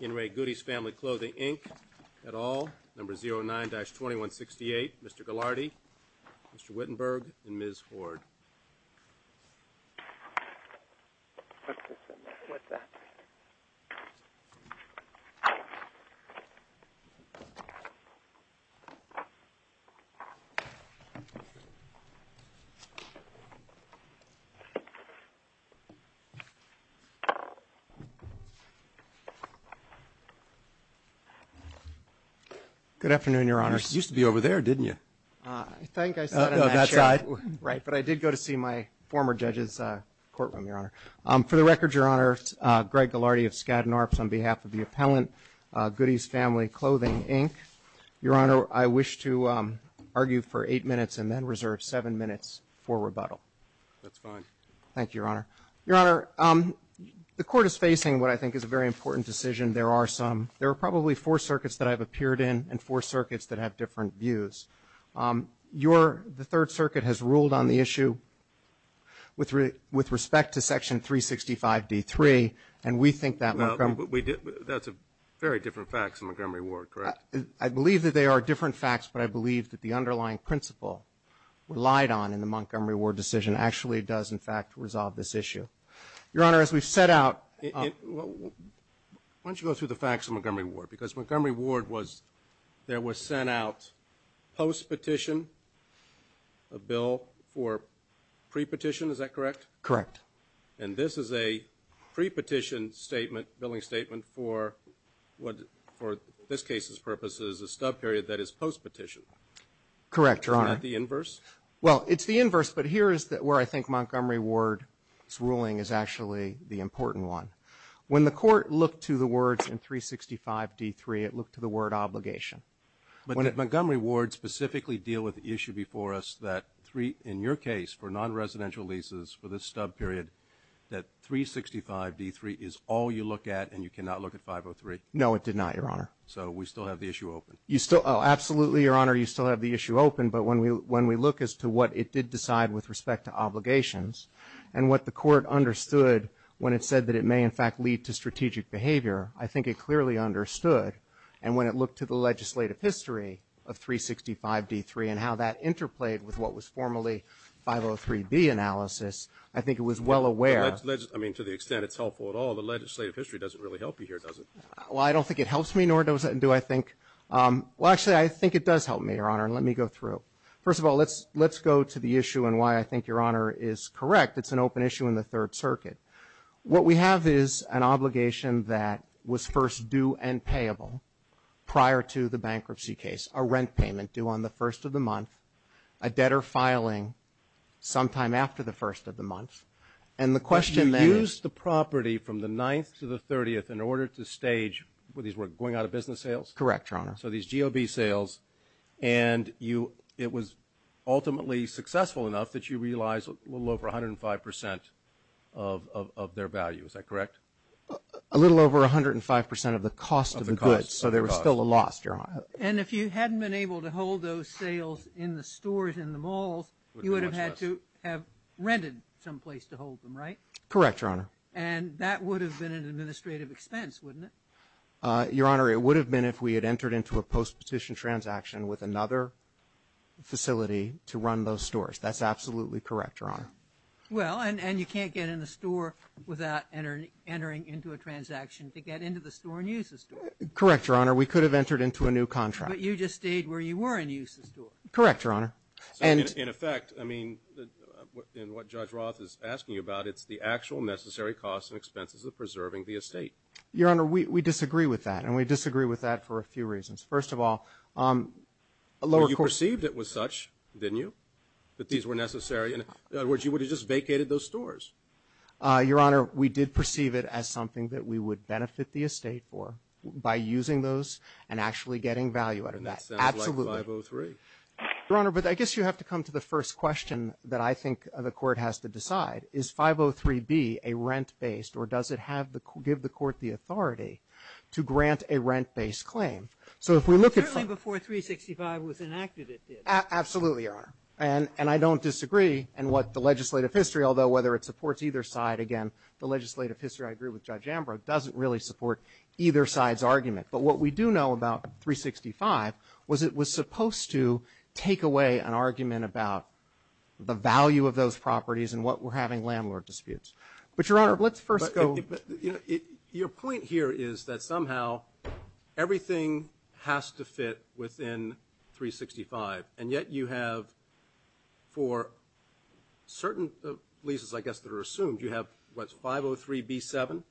In Re Goody's Family Clothing, Inc. et al., number 09-2168, Mr. Gillardy, Mr. Wittenberg, and Ms. Hoard. Good afternoon, Your Honor. You used to be over there, didn't you? I think I sat in that chair. Oh, no, that side. Right, but I did go to see my former judge's courtroom, Your Honor. For the record, Your Honor, Greg Gillardy of Skadden Arps on behalf of the appellant, Goody's Family Clothing, Inc. Your Honor, I wish to argue for eight minutes and then reserve seven minutes for rebuttal. That's fine. Thank you, Your Honor. Your Honor, the Court is facing what I think is a very important decision. There are some, there are probably four circuits that I've appeared in and four circuits that have different views. Your, the Third Circuit has ruled on the issue with respect to Section 365-D3, and we think that Montgomery Well, that's very different facts than Montgomery Ward, correct? I believe that they are different facts, but I believe that the underlying principle relied on in the Montgomery Ward decision actually does, in fact, resolve this issue. Your Honor, as we've set out Why don't you go through the facts of Montgomery Ward? Because Montgomery Ward was, there was sent out post-petition a bill for pre-petition, is that correct? Correct. And this is a pre-petition statement, billing statement, for what, for this case's purposes, a stub period that is post-petition. Correct, Your Honor. Isn't that the inverse? Well, it's the inverse, but here is where I think Montgomery Ward's ruling is actually the important one. When the Court looked to the words in 365-D3, it looked to the word obligation. But did Montgomery Ward specifically deal with the issue before us that three, in your case, for non-residential leases for this stub period, that 365-D3 is all you look at and you cannot look at 503? No, it did not, Your Honor. So we still have the issue open? You still, absolutely, Your Honor, you still have the issue open. But when we look as to what it did decide with respect to obligations and what the Court understood when it said that it may, in fact, lead to strategic behavior, I think it clearly understood. And when it looked to the legislative history of 365-D3 and how that interplayed with what was formally 503-B analysis, I think it was well aware. I mean, to the extent it's helpful at all, the legislative history doesn't really help you here, does it? Well, I don't think it helps me, nor does it do, I think. Well, actually, I think it does help me, Your Honor, and let me go through. First of all, let's go to the issue and why I think Your Honor is correct. It's an open issue in the Third Circuit. What we have is an obligation that was first due and payable prior to the bankruptcy case, a rent payment due on the first of the month, a debtor filing sometime after the first of the month. And the question there is you used the property from the 9th to the 30th in order to stage what these were, going out of business sales? Correct, Your Honor. So these GOB sales, and it was ultimately successful enough that you realized a little over 105 percent of their value. Is that correct? A little over 105 percent of the cost of the goods, so there was still a loss, Your Honor. And if you hadn't been able to hold those sales in the stores and the malls, you would have had to have rented someplace to hold them, right? Correct, Your Honor. And that would have been an administrative expense, wouldn't it? Your Honor, it would have been if we had entered into a post-petition transaction with another facility to run those stores. That's absolutely correct, Your Honor. Well, and you can't get in the store without entering into a transaction to get into the store and use the store. Correct, Your Honor. We could have entered into a new contract. But you just stayed where you were and used the store. Correct, Your Honor. So in effect, I mean, in what Judge Roth is asking you about, it's the actual necessary costs and expenses of preserving the estate. Your Honor, we disagree with that, and we disagree with that for a few reasons. First of all, a lower court – Well, you perceived it was such, didn't you, that these were necessary? In other words, you would have just vacated those stores. Your Honor, we did perceive it as something that we would benefit the estate for by using those and actually getting value out of that. And that sounds like 503. Absolutely. Your Honor, but I guess you have to come to the first question that I think the court has to decide. Is 503B a rent-based, or does it give the court the authority to grant a rent-based claim? So if we look at – Absolutely, Your Honor. And I don't disagree in what the legislative history – although whether it supports either side, again, the legislative history, I agree with Judge Ambrose, doesn't really support either side's argument. But what we do know about 365 was it was supposed to take away an argument about the value of those properties and what we're having landlord disputes. But, Your Honor, let's first go – Your point here is that somehow everything has to fit within 365. And yet you have, for certain leases, I guess, that are assumed, you have, what, 503B7?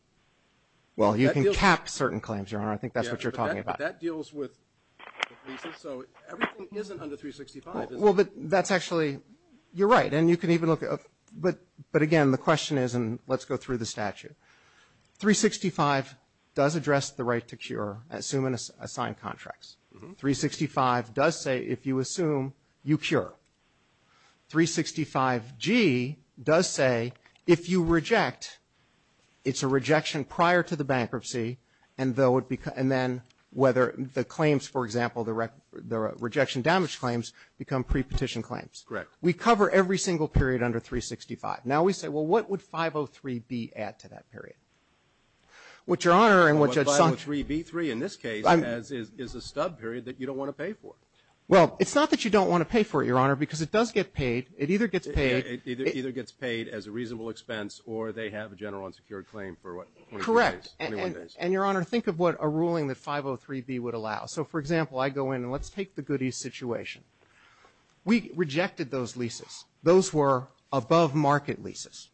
Well, you can cap certain claims, Your Honor. I think that's what you're talking about. But that deals with leases. So everything isn't under 365, is it? Well, but that's actually – you're right. And you can even look – but, again, the question is – and let's go through the statute. 365 does address the right to cure, assume and assign contracts. 365 does say if you assume, you cure. 365G does say if you reject, it's a rejection prior to the bankruptcy and then whether the claims, for example, the rejection damage claims, become pre-petition claims. Correct. We cover every single period under 365. Now we say, well, what would 503B add to that period? What, Your Honor – What 503B3 in this case is a stub period that you don't want to pay for. Well, it's not that you don't want to pay for it, Your Honor, because it does get paid. It either gets paid – It either gets paid as a reasonable expense or they have a general unsecured claim for, what, 21 days? Correct. And, Your Honor, think of what a ruling that 503B would allow. So, for example, I go in and let's take the Goody's situation. We rejected those leases. Those were above-market leases.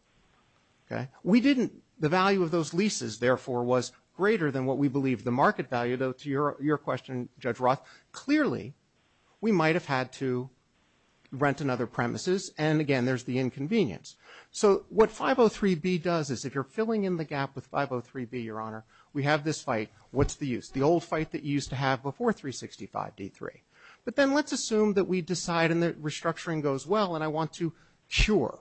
Okay? We didn't – the value of those leases, therefore, was greater than what we believe the market value, though, to your question, Judge Roth. Clearly, we might have had to rent another premises and, again, there's the inconvenience. So what 503B does is if you're filling in the gap with 503B, Your Honor, we have this fight. What's the use? The old fight that you used to have before 365D3. But then let's assume that we decide and the restructuring goes well and I want to cure.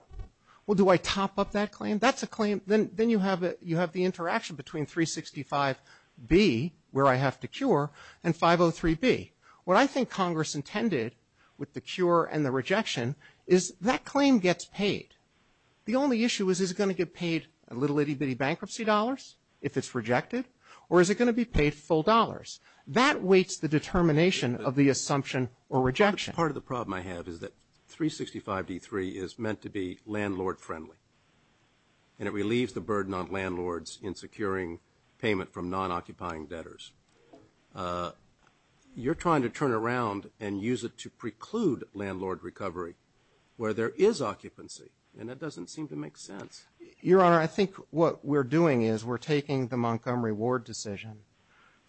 Well, do I top up that claim? That's a claim. Then you have the interaction between 365B, where I have to cure, and 503B. What I think Congress intended with the cure and the rejection is that claim gets paid. The only issue is, is it going to get paid in little itty-bitty bankruptcy dollars if it's rejected? Or is it going to be paid full dollars? That weights the determination of the assumption or rejection. Part of the problem I have is that 365D3 is meant to be landlord-friendly, and it relieves the burden on landlords in securing payment from non-occupying debtors. You're trying to turn around and use it to preclude landlord recovery where there is occupancy, and that doesn't seem to make sense. Your Honor, I think what we're doing is we're taking the Montgomery Ward decision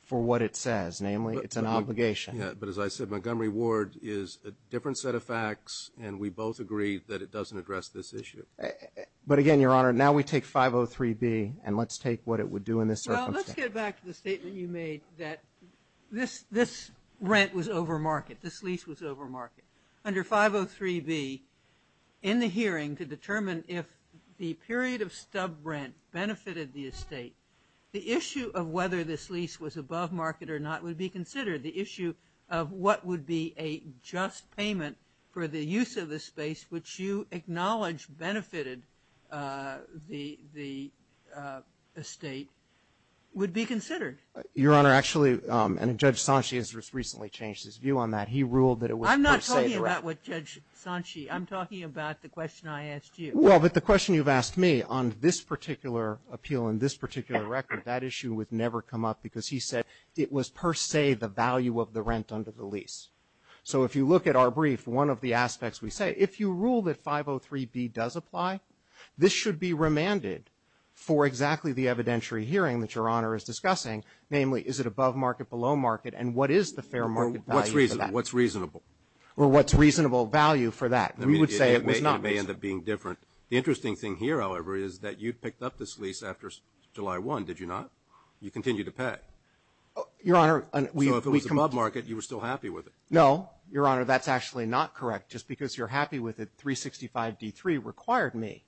for what it says, namely it's an obligation. But as I said, Montgomery Ward is a different set of facts, and we both agree that it doesn't address this issue. But again, Your Honor, now we take 503B, and let's take what it would do in this circumstance. Well, let's get back to the statement you made that this rent was over market, this lease was over market. Under 503B, in the hearing to determine if the period of stub rent benefited the estate, the issue of whether this lease was above market or not would be considered. The issue of what would be a just payment for the use of the space, which you acknowledge benefited the estate, would be considered. Your Honor, actually, and Judge Sanchez just recently changed his view on that. He ruled that it was per se the rent. I'm not talking about what Judge Sanchez. I'm talking about the question I asked you. Well, but the question you've asked me on this particular appeal and this particular record, that issue would never come up because he said it was per se the value of the rent under the lease. So if you look at our brief, one of the aspects we say, if you rule that 503B does apply, this should be remanded for exactly the evidentiary hearing that Your Honor is discussing, namely is it above market, below market, and what is the fair market value for that? What's reasonable? Well, what's reasonable value for that? We would say it was not reasonable. It may end up being different. The interesting thing here, however, is that you picked up this lease after July 1, did you not? You continued to pay. Your Honor, we've come up. So if it was above market, you were still happy with it. No, Your Honor, that's actually not correct. Just because you're happy with it, 365D3 required me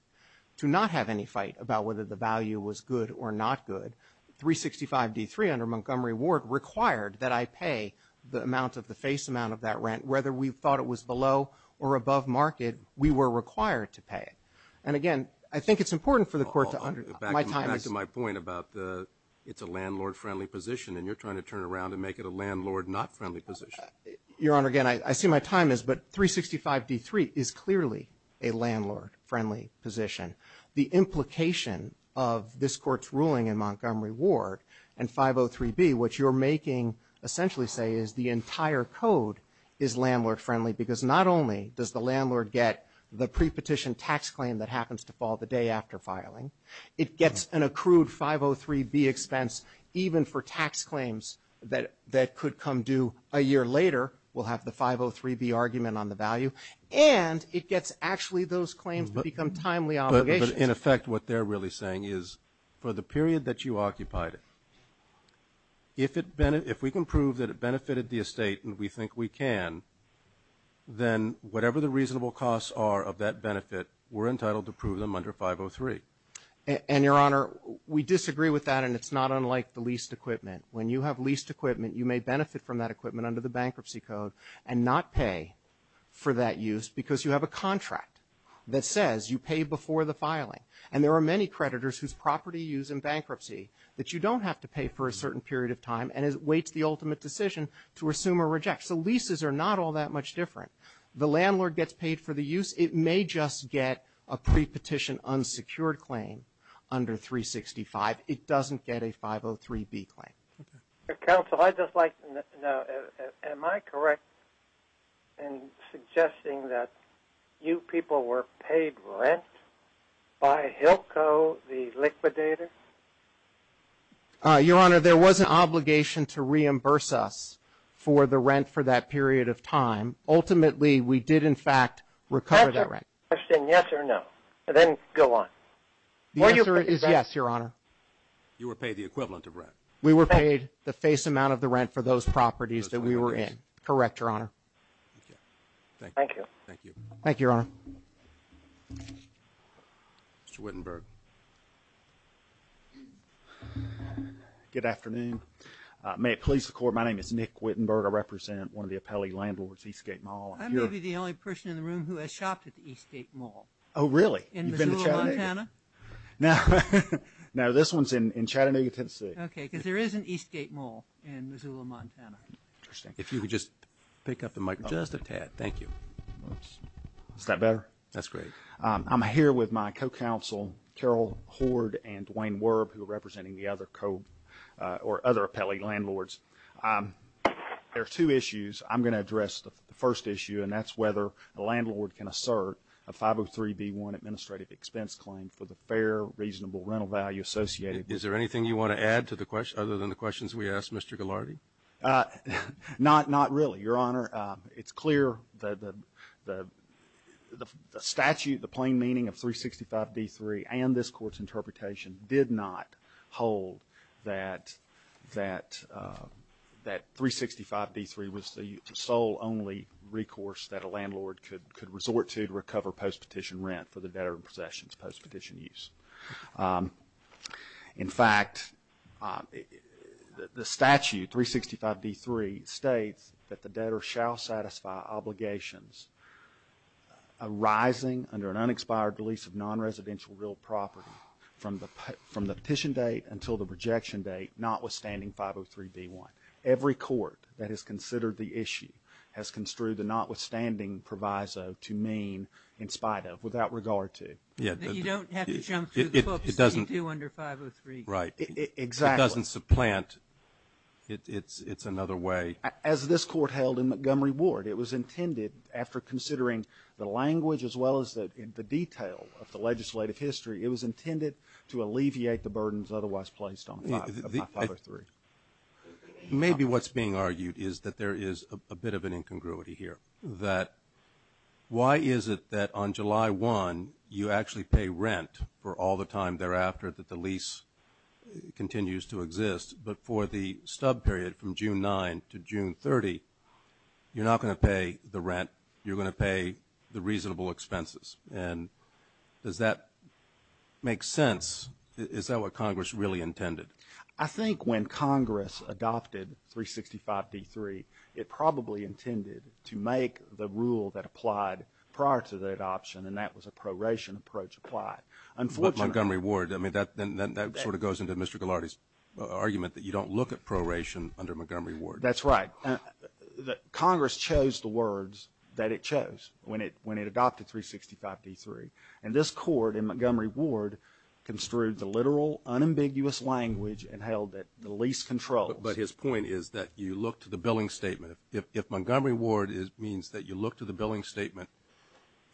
to not have any fight about whether the value was good or not good. 365D3 under Montgomery Ward required that I pay the amount of the face amount of that rent. Whether we thought it was below or above market, we were required to pay it. And, again, I think it's important for the court to understand. Back to my point about it's a landlord-friendly position, and you're trying to turn around and make it a landlord-not-friendly position. Your Honor, again, I see my time is, but 365D3 is clearly a landlord-friendly position. The implication of this Court's ruling in Montgomery Ward and 503B, which you're making essentially say is the entire code is landlord-friendly because not only does the landlord get the prepetition tax claim that happens to fall the day after filing, it gets an accrued 503B expense even for tax claims that could come due a year later. We'll have the 503B argument on the value. And it gets actually those claims that become timely obligations. But, in effect, what they're really saying is for the period that you occupied it, if we can prove that it benefited the estate and we think we can, then whatever the reasonable costs are of that benefit, we're entitled to prove them under 503. And, Your Honor, we disagree with that, and it's not unlike the leased equipment. When you have leased equipment, you may benefit from that equipment under the bankruptcy code and not pay for that use because you have a contract that says you pay before the filing. And there are many creditors whose property is in bankruptcy that you don't have to pay for a certain period of time and it awaits the ultimate decision to assume or reject. So leases are not all that much different. The landlord gets paid for the use. It may just get a prepetition unsecured claim under 365. It doesn't get a 503B claim. Counsel, I'd just like to know, am I correct in suggesting that you people were paid rent by HILCO, the liquidator? Your Honor, there was an obligation to reimburse us for the rent for that period of time. Ultimately, we did, in fact, recover that rent. Answer my question, yes or no, and then go on. The answer is yes, Your Honor. You were paid the equivalent of rent. We were paid the face amount of the rent for those properties that we were in. Correct, Your Honor. Thank you. Thank you, Your Honor. Mr. Wittenberg. Good afternoon. May it please the Court, my name is Nick Wittenberg. I represent one of the appellee landlords, Eastgate Mall. I'm maybe the only person in the room who has shopped at the Eastgate Mall. Oh, really? In Missoula, Montana? No, this one's in Chattanooga, Tennessee. Okay, because there is an Eastgate Mall in Missoula, Montana. Interesting. If you could just pick up the mic just a tad. Thank you. Is that better? That's great. I'm here with my co-counsel, Carol Hoard and Dwayne Werb, who are representing the other co- or other appellee landlords. There are two issues I'm going to address. The first issue, and that's whether a landlord can assert a 503-b-1 administrative expense claim for the fair, reasonable rental value associated with it. Is there anything you want to add to the question, other than the questions we asked Mr. Ghilardi? Not really, Your Honor. It's clear that the statute, the plain meaning of 365-b-3, and this Court's interpretation did not hold that 365-b-3 was the sole only recourse that a landlord could resort to to recover post-petition rent for the debtor in possession's post-petition use. In fact, the statute, 365-b-3, states that the debtor shall satisfy obligations arising under an administrative property from the petition date until the rejection date, notwithstanding 503-b-1. Every court that has considered the issue has construed the notwithstanding proviso to mean in spite of, without regard to. You don't have to jump through the books to do under 503-b-1. Right. Exactly. It doesn't supplant. It's another way. As this Court held in Montgomery Ward, it was intended, after considering the language, as well as the detail of the legislative history, it was intended to alleviate the burdens otherwise placed on 503. Maybe what's being argued is that there is a bit of an incongruity here, that why is it that on July 1, you actually pay rent for all the time thereafter that the lease continues to exist, but for the stub period from June 9 to June 30, you're not going to pay the rent. You're going to pay the reasonable expenses. And does that make sense? Is that what Congress really intended? I think when Congress adopted 365-b-3, it probably intended to make the rule that applied prior to that option, and that was a proration approach applied. But Montgomery Ward, I mean, that sort of goes into Mr. Ghilardi's argument that you don't look at proration under Montgomery Ward. That's right. Congress chose the words that it chose when it adopted 365-b-3, and this Court in Montgomery Ward construed the literal unambiguous language and held that the lease controls. But his point is that you look to the billing statement. If Montgomery Ward means that you look to the billing statement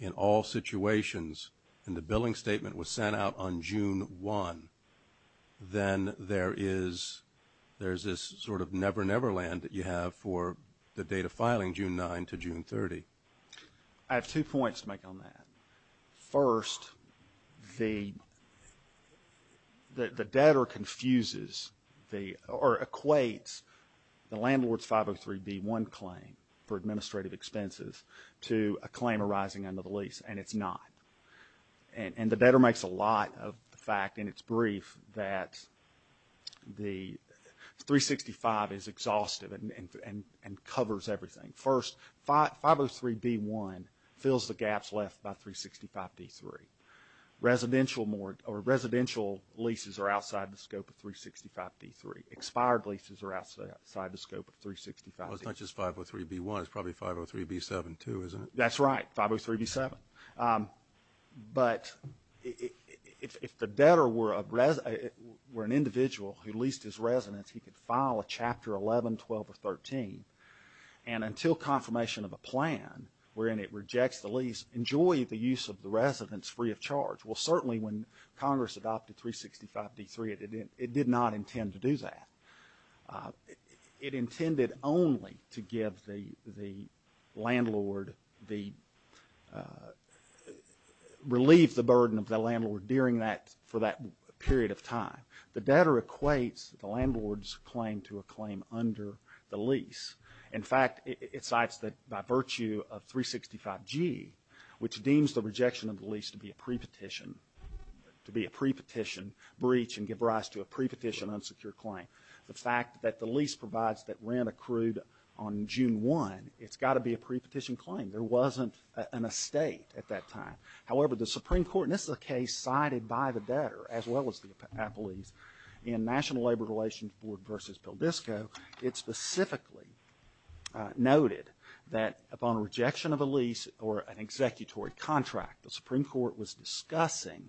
in all situations, and the billing statement was sent out on June 1, then there is this sort of never-never land that you have for the date of filing, June 9 to June 30. I have two points to make on that. First, the debtor confuses or equates the landlord's 503-b-1 claim for administrative expenses to a claim arising under the lease, and it's not. And the debtor makes a lot of the fact in its brief that the 365 is exhaustive and covers everything. First, 503-b-1 fills the gaps left by 365-b-3. Residential leases are outside the scope of 365-b-3. Expired leases are outside the scope of 365-b-3. Well, it's not just 503-b-1. It's probably 503-b-7 too, isn't it? That's right, 503-b-7. But if the debtor were an individual who leased his residence, he could file a Chapter 11, 12, or 13, and until confirmation of a plan wherein it rejects the lease, enjoy the use of the residence free of charge. Well, certainly when Congress adopted 365-b-3, it did not intend to do that. It intended only to give the landlord the – relieve the burden of the landlord during that – for that period of time. The debtor equates the landlord's claim to a claim under the lease. In fact, it cites that by virtue of 365-g, which deems the rejection of the lease to be a pre-petition, to be a pre-petition breach and give rise to a pre-petition unsecure claim. The fact that the lease provides that rent accrued on June 1, it's got to be a pre-petition claim. There wasn't an estate at that time. However, the Supreme Court – and this is a case cited by the debtor as well as the appellees – in National Labor Relations Board v. Pildesco, it specifically noted that upon rejection of a lease or an executory contract, the Supreme Court was discussing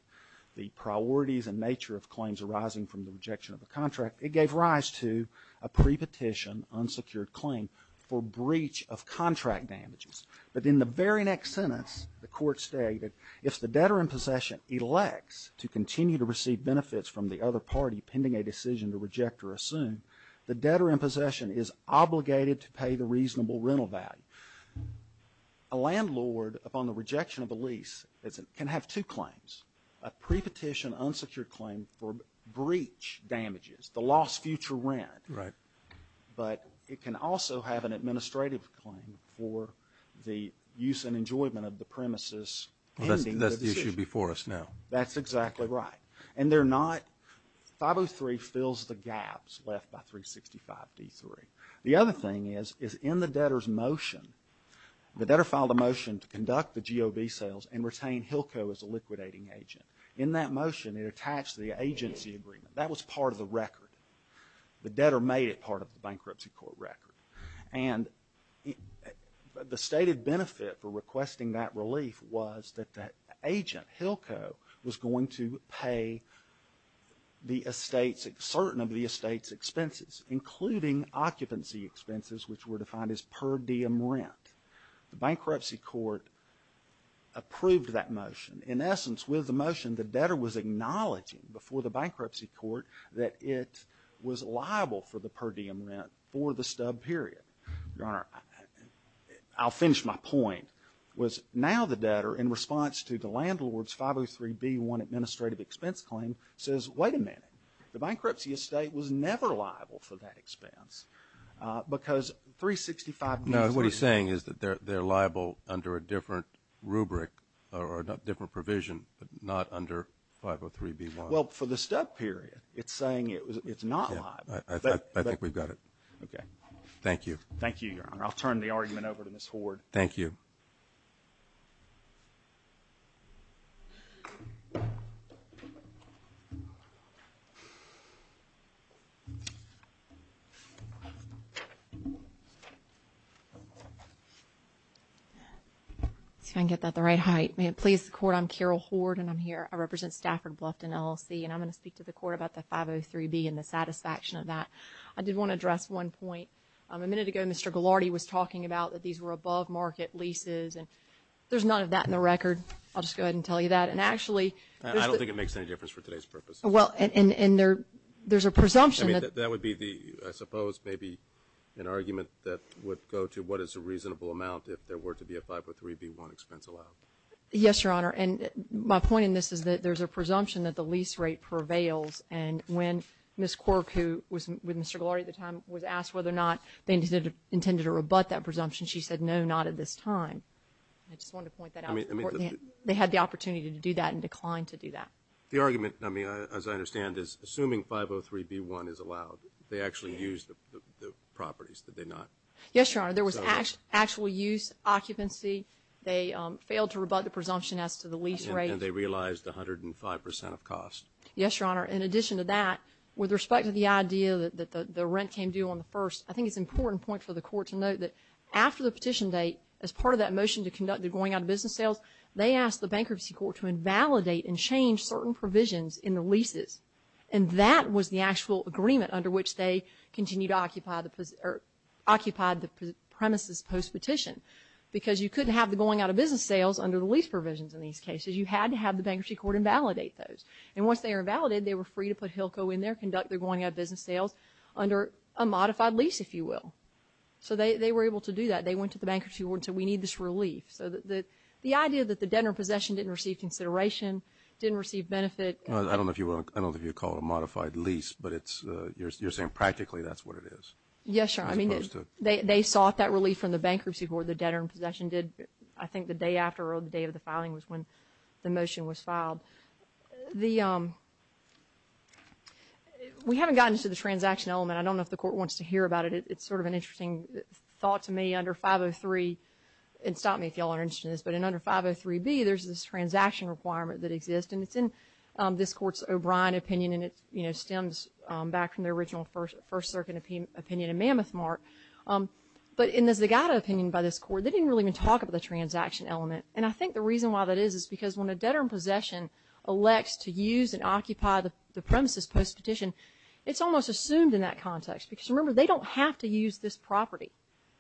the priorities and nature of claims arising from the rejection of a contract. It gave rise to a pre-petition unsecured claim for breach of contract damages. But in the very next sentence, the court stated, if the debtor in possession elects to continue to receive benefits from the other party pending a decision to reject or assume, the debtor in possession is obligated to pay the reasonable rental value. A landlord, upon the rejection of a lease, can have two claims. A pre-petition unsecured claim for breach damages, the lost future rent. Right. But it can also have an administrative claim for the use and enjoyment of the premises pending the decision. Well, that's the issue before us now. That's exactly right. And they're not – 503 fills the gaps left by 365d3. The other thing is, is in the debtor's motion, the debtor filed a motion to conduct the GOV sales and retain Hilco as a liquidating agent. In that motion, it attached the agency agreement. That was part of the record. The debtor made it part of the bankruptcy court record. And the stated benefit for requesting that relief was that that agent, Hilco, was going to pay certain of the estate's expenses, including occupancy expenses, which were defined as per diem rent. The bankruptcy court approved that motion. In essence, with the motion, the debtor was acknowledging before the bankruptcy court that it was liable for the per diem rent for the stub period. Your Honor, I'll finish my point. Now the debtor, in response to the landlord's 503b1 administrative expense claim, says, wait a minute, the bankruptcy estate was never liable for that expense because 365d3. No, what he's saying is that they're liable under a different rubric or a different provision, but not under 503b1. Well, for the stub period, it's saying it's not liable. I think we've got it. Okay. Thank you. Thank you, Your Honor. I'll turn the argument over to Ms. Hoard. Thank you. Let's see if I can get that the right height. May it please the Court, I'm Carol Hoard, and I'm here. I represent Stafford Bluffton LLC, and I'm going to speak to the Court about the 503b and the satisfaction of that. I did want to address one point. A minute ago, Mr. Ghilardi was talking about that these were above-market leases, and there's none of that in the record. I'll just go ahead and tell you that. And actually, I don't think it makes any difference for today's purposes. Well, and there's a presumption. I mean, that would be the, I suppose, maybe an argument that would go to what is a reasonable amount if there were to be a 503b1 expense allowed. Yes, Your Honor. And my point in this is that there's a presumption that the lease rate prevails, and when Ms. Quirk, who was with Mr. Ghilardi at the time, was asked whether or not they intended to rebut that presumption, she said no, not at this time. I just wanted to point that out to the Court. They had the opportunity to do that and declined to do that. The argument, I mean, as I understand, is assuming 503b1 is allowed, they actually used the properties, did they not? Yes, Your Honor. There was actual use, occupancy. They failed to rebut the presumption as to the lease rate. And they realized 105 percent of cost. Yes, Your Honor. In addition to that, with respect to the idea that the rent came due on the 1st, I think it's an important point for the Court to note that after the petition date, as part of that motion to conduct the going-out-of-business sales, they asked the Bankruptcy Court to invalidate and change certain provisions in the leases. And that was the actual agreement under which they continued to occupy the premises post-petition, because you couldn't have the going-out-of-business sales under the lease provisions in these cases. You had to have the Bankruptcy Court invalidate those. And once they were invalidated, they were free to put HILCO in there, conduct their going-out-of-business sales under a modified lease, if you will. So they were able to do that. They went to the Bankruptcy Court and said, we need this relief. So the idea that the debtor in possession didn't receive consideration, didn't receive benefit. I don't know if you would call it a modified lease, but you're saying practically that's what it is. Yes, Your Honor. I mean, they sought that relief from the Bankruptcy Court, the debtor in possession did. We haven't gotten to the transaction element. I don't know if the Court wants to hear about it. It's sort of an interesting thought to me. Under 503, and stop me if you all are interested in this, but under 503B, there's this transaction requirement that exists, and it's in this Court's O'Brien opinion, and it stems back from the original First Circuit opinion in Mammoth Mark. But in the Zagata opinion by this Court, they didn't really even talk about the transaction element. And I think the reason why that is is because when a debtor in possession elects to use and occupy the premises post-petition, it's almost assumed in that context. Because, remember, they don't have to use this property.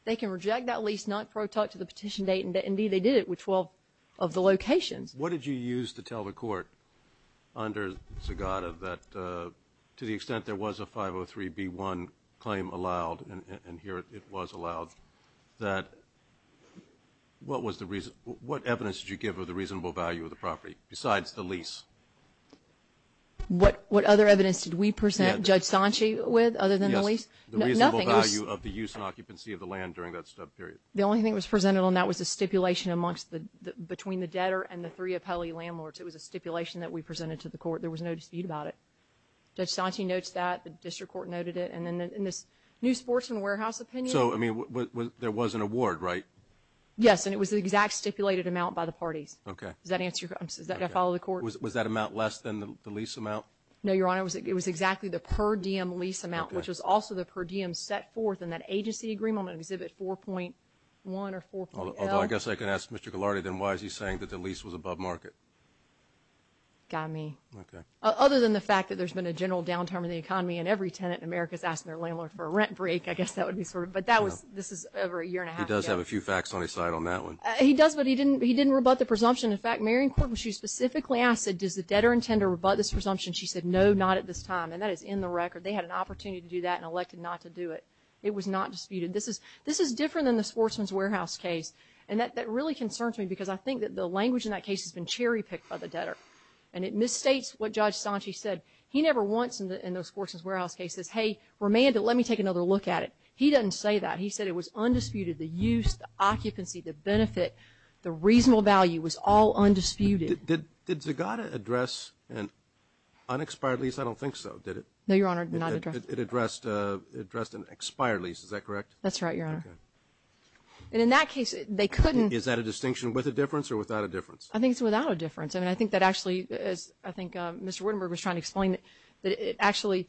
They can reject that lease, not pro-tut to the petition date. Indeed, they did it with 12 of the locations. What did you use to tell the Court under Zagata that to the extent there was a 503B1 claim allowed, and here it was allowed, that what evidence did you give of the reasonable value of the property besides the lease? What other evidence did we present Judge Sanchi with other than the lease? Yes, the reasonable value of the use and occupancy of the land during that stub period. The only thing that was presented on that was a stipulation between the debtor and the three appellee landlords. It was a stipulation that we presented to the Court. There was no dispute about it. Judge Sanchi notes that. The district court noted it. And then in this new sportsman warehouse opinion. So, I mean, there was an award, right? Yes, and it was the exact stipulated amount by the parties. Okay. Does that answer your question? Did I follow the Court? Was that amount less than the lease amount? No, Your Honor. It was exactly the per diem lease amount, which was also the per diem set forth in that agency agreement on Exhibit 4.1 or 4.L. Although I guess I can ask Mr. Ghilardi, then why is he saying that the lease was above market? Got me. Okay. Other than the fact that there's been a general downtime in the economy and every tenant in America is asking their landlord for a rent break, I guess that would be sort of, but that was, this is over a year and a half ago. He does have a few facts on his side on that one. He does, but he didn't rebut the presumption. In fact, Mary in court, when she was specifically asked, does the debtor intend to rebut this presumption, she said no, not at this time. And that is in the record. They had an opportunity to do that and elected not to do it. It was not disputed. This is different than the sportsman's warehouse case. And that really concerns me because I think that the language in that case has been cherry picked by the debtor. And it misstates what Judge Sanchi said. He never once in those sportsman's warehouse cases, hey, remand it, let me take another look at it. He doesn't say that. He said it was undisputed. The use, the occupancy, the benefit, the reasonable value was all undisputed. Did Zagata address an unexpired lease? I don't think so, did it? No, Your Honor, not addressed. It addressed an expired lease, is that correct? That's right, Your Honor. Okay. And in that case, they couldn't. Is that a distinction with a difference or without a difference? I think it's without a difference. And I think that actually, as I think Mr. Wittenberg was trying to explain, that actually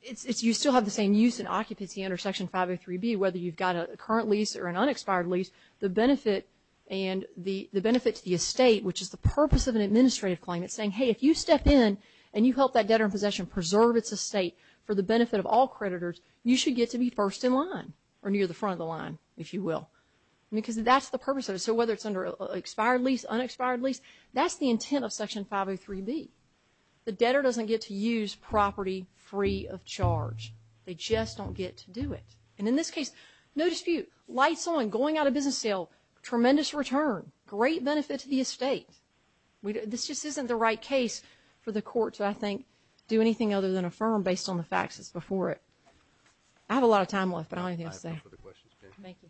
you still have the same use and occupancy under Section 503B, whether you've got a current lease or an unexpired lease. The benefit and the benefit to the estate, which is the purpose of an administrative claim, it's saying, hey, if you step in and you help that debtor in possession preserve its estate for the benefit of all creditors, you should get to be first in line or near the front of the line, if you will. Because that's the purpose of it. So whether it's under an expired lease, unexpired lease, that's the intent of Section 503B. The debtor doesn't get to use property free of charge. They just don't get to do it. And in this case, no dispute, lights on, going out of business sale, tremendous return, great benefit to the estate. This just isn't the right case for the court to, I think, do anything other than affirm based on the facts that's before it. I have a lot of time left, but I don't have anything to say. I have time for the questions. Thank you.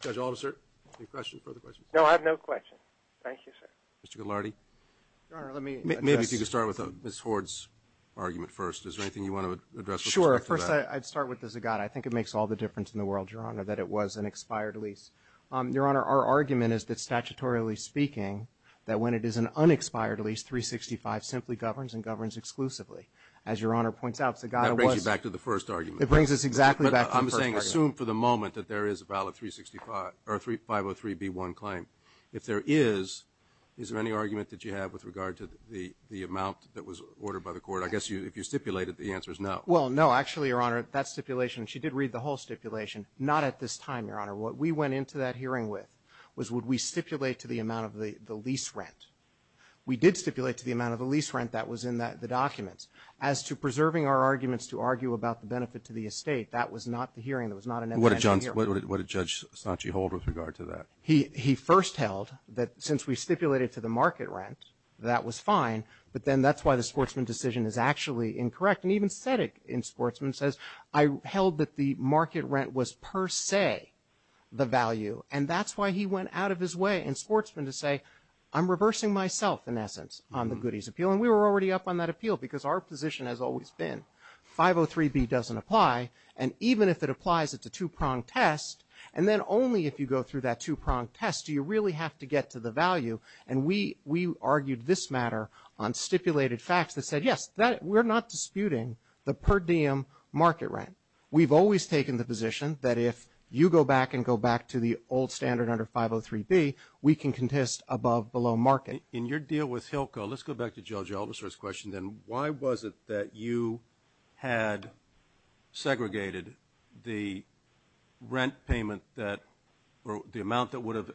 Judge Alder, sir, any questions, further questions? No, I have no questions. Thank you, sir. Mr. Ghilardi? Your Honor, let me address. Maybe if you could start with Ms. Hord's argument first. Is there anything you want to address with respect to that? Sure. First, I'd start with the Zagata. I think it makes all the difference in the world, Your Honor, that it was an expired lease. Your Honor, our argument is that, statutorily speaking, that when it is an unexpired lease, 365 simply governs and governs exclusively. As Your Honor points out, Zagata was. That brings you back to the first argument. It brings us exactly back to the first argument. But I'm saying assume for the moment that there is a valid 365 or 503b1 claim. If there is, is there any argument that you have with regard to the amount that was ordered by the court? I guess if you stipulated, the answer is no. Well, no. Actually, Your Honor, that stipulation, she did read the whole stipulation. Not at this time, Your Honor. What we went into that hearing with was would we stipulate to the amount of the lease rent. We did stipulate to the amount of the lease rent that was in the documents. As to preserving our arguments to argue about the benefit to the estate, that was not the hearing. That was not an intentional hearing. What did Judge Sanchi hold with regard to that? He first held that since we stipulated to the market rent, that was fine. But then that's why the sportsman decision is actually incorrect. And even Sedeck in sportsman says, I held that the market rent was per se the value. And that's why he went out of his way in sportsman to say, I'm reversing myself, in essence, on the goodies appeal. And we were already up on that appeal because our position has always been 503B doesn't apply. And even if it applies, it's a two-pronged test. And then only if you go through that two-pronged test do you really have to get to the value. And we argued this matter on stipulated facts that said, yes, we're not disputing the per diem market rent. We've always taken the position that if you go back and go back to the old standard under 503B, we can contest above-below market. In your deal with Hilco, let's go back to Joe Gelbesser's question then. Why was it that you had segregated the rent payment that the amount that would have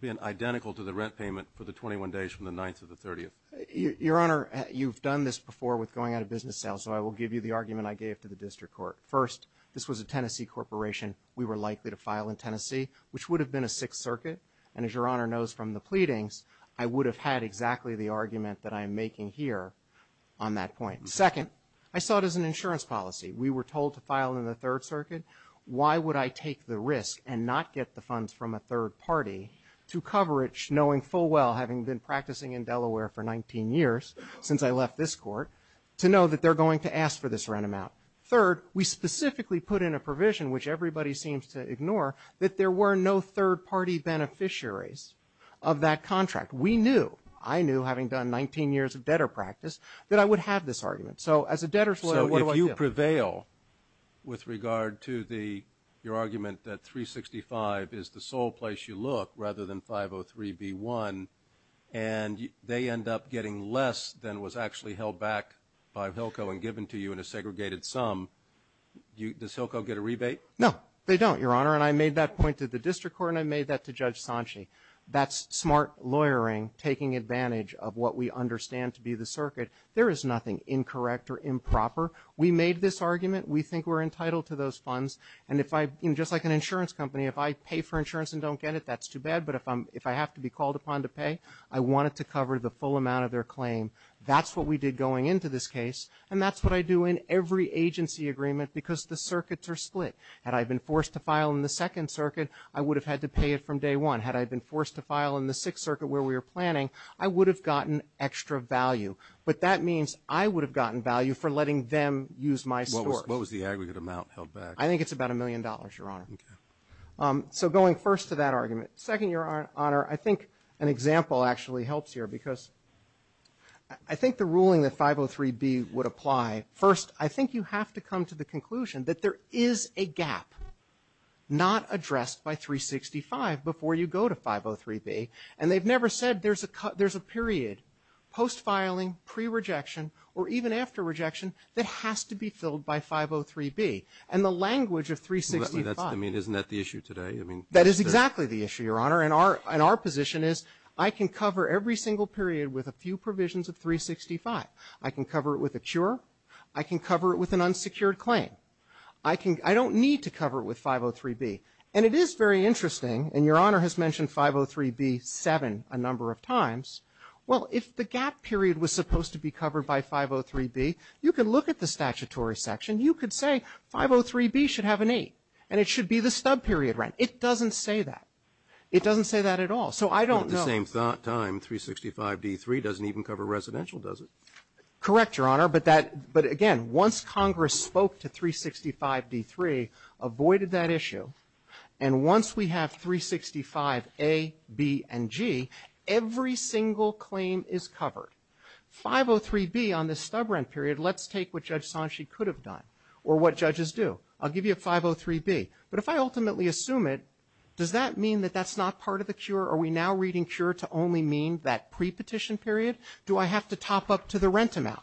been identical to the rent payment for the 21 days from the 9th to the 30th? Your Honor, you've done this before with going out of business sales. So I will give you the argument I gave to the district court. First, this was a Tennessee corporation. We were likely to file in Tennessee, which would have been a Sixth Circuit. And as Your Honor knows from the pleadings, I would have had exactly the argument that I'm making here on that point. Second, I saw it as an insurance policy. We were told to file in the Third Circuit. Why would I take the risk and not get the funds from a third party to cover it, knowing full well, having been practicing in Delaware for 19 years since I left this court, to know that they're going to ask for this rent amount? Third, we specifically put in a provision, which everybody seems to ignore, that there were no third party beneficiaries of that contract. We knew, I knew, having done 19 years of debtor practice, that I would have this argument. So as a debtor's lawyer, what do I do? So if you prevail with regard to your argument that 365 is the sole place you look rather than 503B1, and they end up getting less than was actually held back by HILCO and given to you in a segregated sum, does HILCO get a rebate? No, they don't, Your Honor. And I made that point to the district court, and I made that to Judge Sanchi. That's smart lawyering, taking advantage of what we understand to be the circuit. There is nothing incorrect or improper. We made this argument. We think we're entitled to those funds. And if I, just like an insurance company, if I pay for insurance and don't get it, that's too bad. But if I have to be called upon to pay, I want it to cover the full amount of their claim. That's what we did going into this case, and that's what I do in every agency agreement because the circuits are split. Had I been forced to file in the Second Circuit, I would have had to pay it from day one. Had I been forced to file in the Sixth Circuit where we were planning, I would have gotten extra value. But that means I would have gotten value for letting them use my store. What was the aggregate amount held back? I think it's about a million dollars, Your Honor. Okay. So going first to that argument. Second, Your Honor, I think an example actually helps here because I think the ruling that 503B would apply. First, I think you have to come to the conclusion that there is a gap not addressed by 365 before you go to 503B. And they've never said there's a period post-filing, pre-rejection, or even after rejection that has to be filled by 503B. And the language of 365. I mean, isn't that the issue today? That is exactly the issue, Your Honor. And our position is I can cover every single period with a few provisions of 365. I can cover it with a cure. I can cover it with an unsecured claim. I don't need to cover it with 503B. And it is very interesting, and Your Honor has mentioned 503B seven a number of times. Well, if the gap period was supposed to be covered by 503B, you could look at the statutory section. You could say 503B should have an eight, and it should be the stub period rent. It doesn't say that. It doesn't say that at all. So I don't know. At the same time, 365D3 doesn't even cover residential, does it? Correct, Your Honor. But again, once Congress spoke to 365D3, avoided that issue. And once we have 365A, B, and G, every single claim is covered. 503B on the stub rent period, let's take what Judge Sanchi could have done or what judges do. I'll give you a 503B. But if I ultimately assume it, does that mean that that's not part of the cure? Are we now reading cure to only mean that pre-petition period? Do I have to top up to the rent amount?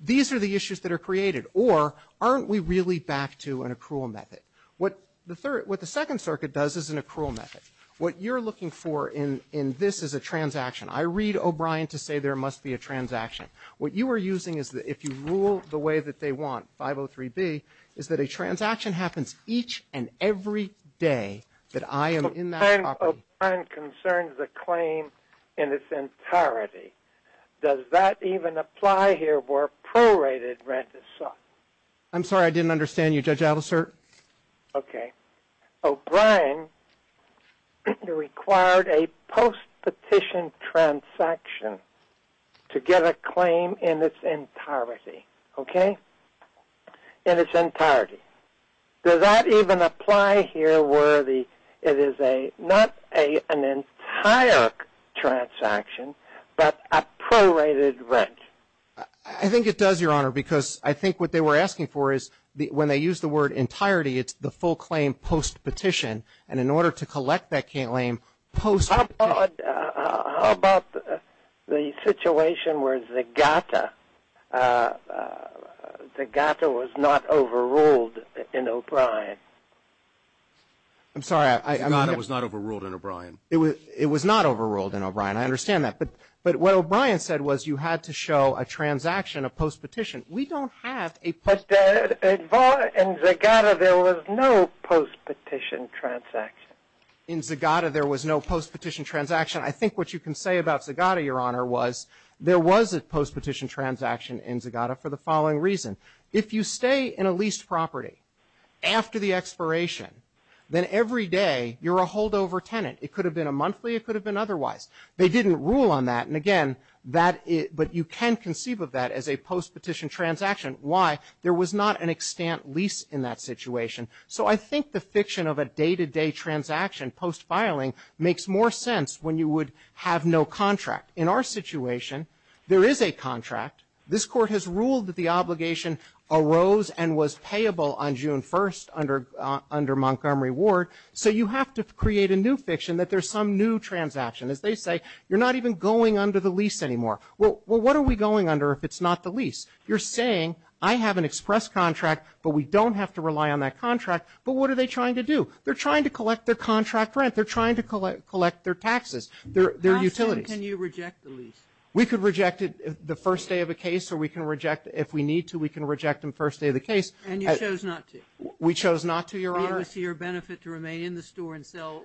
These are the issues that are created. Or aren't we really back to an accrual method? What the Second Circuit does is an accrual method. What you're looking for in this is a transaction. I read O'Brien to say there must be a transaction. What you are using is that if you rule the way that they want, 503B, is that a transaction happens each and every day that I am in that property. O'Brien concerns the claim in its entirety. Does that even apply here where prorated rent is sought? I'm sorry, I didn't understand you, Judge Alicer. Okay. O'Brien required a post-petition transaction to get a claim in its entirety. Okay? In its entirety. Does that even apply here where it is not an entire transaction but a prorated rent? I think it does, Your Honor, because I think what they were asking for is, when they use the word entirety, it's the full claim post-petition. And in order to collect that claim post-petition. How about the situation where Zagata was not overruled in O'Brien? I'm sorry. Zagata was not overruled in O'Brien. It was not overruled in O'Brien. I understand that. But what O'Brien said was you had to show a transaction of post-petition. We don't have a post-petition. In Zagata there was no post-petition transaction. In Zagata there was no post-petition transaction. I think what you can say about Zagata, Your Honor, was there was a post-petition transaction in Zagata for the following reason. If you stay in a leased property after the expiration, then every day you're a holdover tenant. It could have been a monthly. It could have been otherwise. They didn't rule on that. But you can conceive of that as a post-petition transaction. Why? There was not an extant lease in that situation. So I think the fiction of a day-to-day transaction post-filing makes more sense when you would have no contract. In our situation, there is a contract. This Court has ruled that the obligation arose and was payable on June 1st under Montgomery Ward. So you have to create a new fiction that there's some new transaction. As they say, you're not even going under the lease anymore. Well, what are we going under if it's not the lease? You're saying I have an express contract, but we don't have to rely on that contract. But what are they trying to do? They're trying to collect their contract rent. They're trying to collect their taxes, their utilities. How soon can you reject the lease? We could reject it the first day of a case, or we can reject it if we need to. We can reject it the first day of the case. And you chose not to? We chose not to, Your Honor. To be able to see your benefit to remain in the store and sell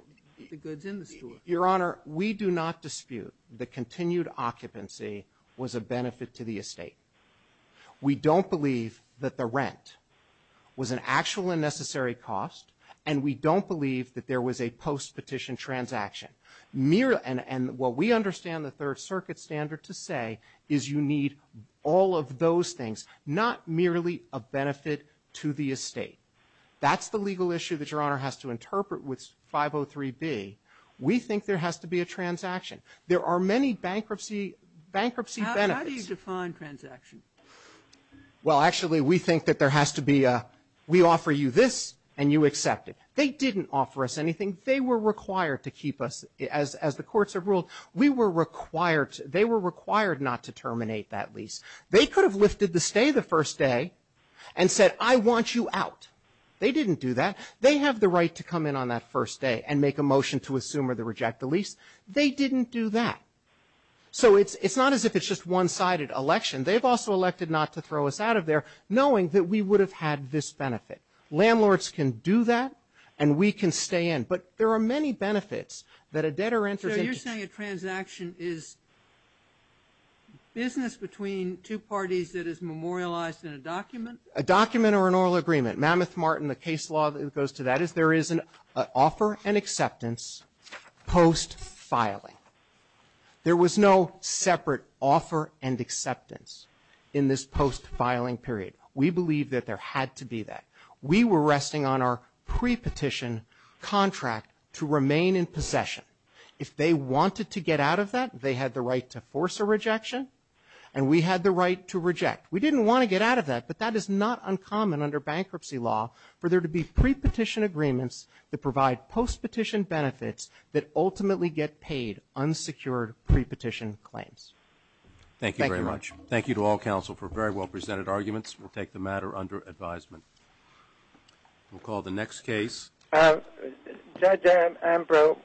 the goods in the store. Your Honor, we do not dispute the continued occupancy was a benefit to the estate. We don't believe that the rent was an actual and necessary cost, and we don't believe that there was a post-petition transaction. And what we understand the Third Circuit standard to say is you need all of those things, not merely a benefit to the estate. That's the legal issue that Your Honor has to interpret with 503B. We think there has to be a transaction. There are many bankruptcy benefits. How do you define transaction? Well, actually, we think that there has to be a, we offer you this and you accept it. They didn't offer us anything. They were required to keep us, as the courts have ruled, we were required, they were required not to terminate that lease. They could have lifted the stay the first day and said, I want you out. They didn't do that. They have the right to come in on that first day and make a motion to assume or to reject the lease. They didn't do that. So it's not as if it's just one-sided election. They've also elected not to throw us out of there knowing that we would have had this benefit. Landlords can do that, and we can stay in. But there are many benefits that a debtor enters into. So you're saying a transaction is business between two parties that is memorialized in a document? A document or an oral agreement. Mammoth-Martin, the case law that goes to that is there is an offer and acceptance post-filing. There was no separate offer and acceptance in this post-filing period. We believe that there had to be that. We were resting on our pre-petition contract to remain in possession. If they wanted to get out of that, they had the right to force a rejection, and we had the right to reject. We didn't want to get out of that, but that is not uncommon under bankruptcy law for there to be pre-petition agreements that provide post-petition benefits that ultimately get paid unsecured pre-petition claims. Thank you very much. Thank you to all counsel for very well presented arguments. We'll take the matter under advisement. We'll call the next case. Judge Ambrose.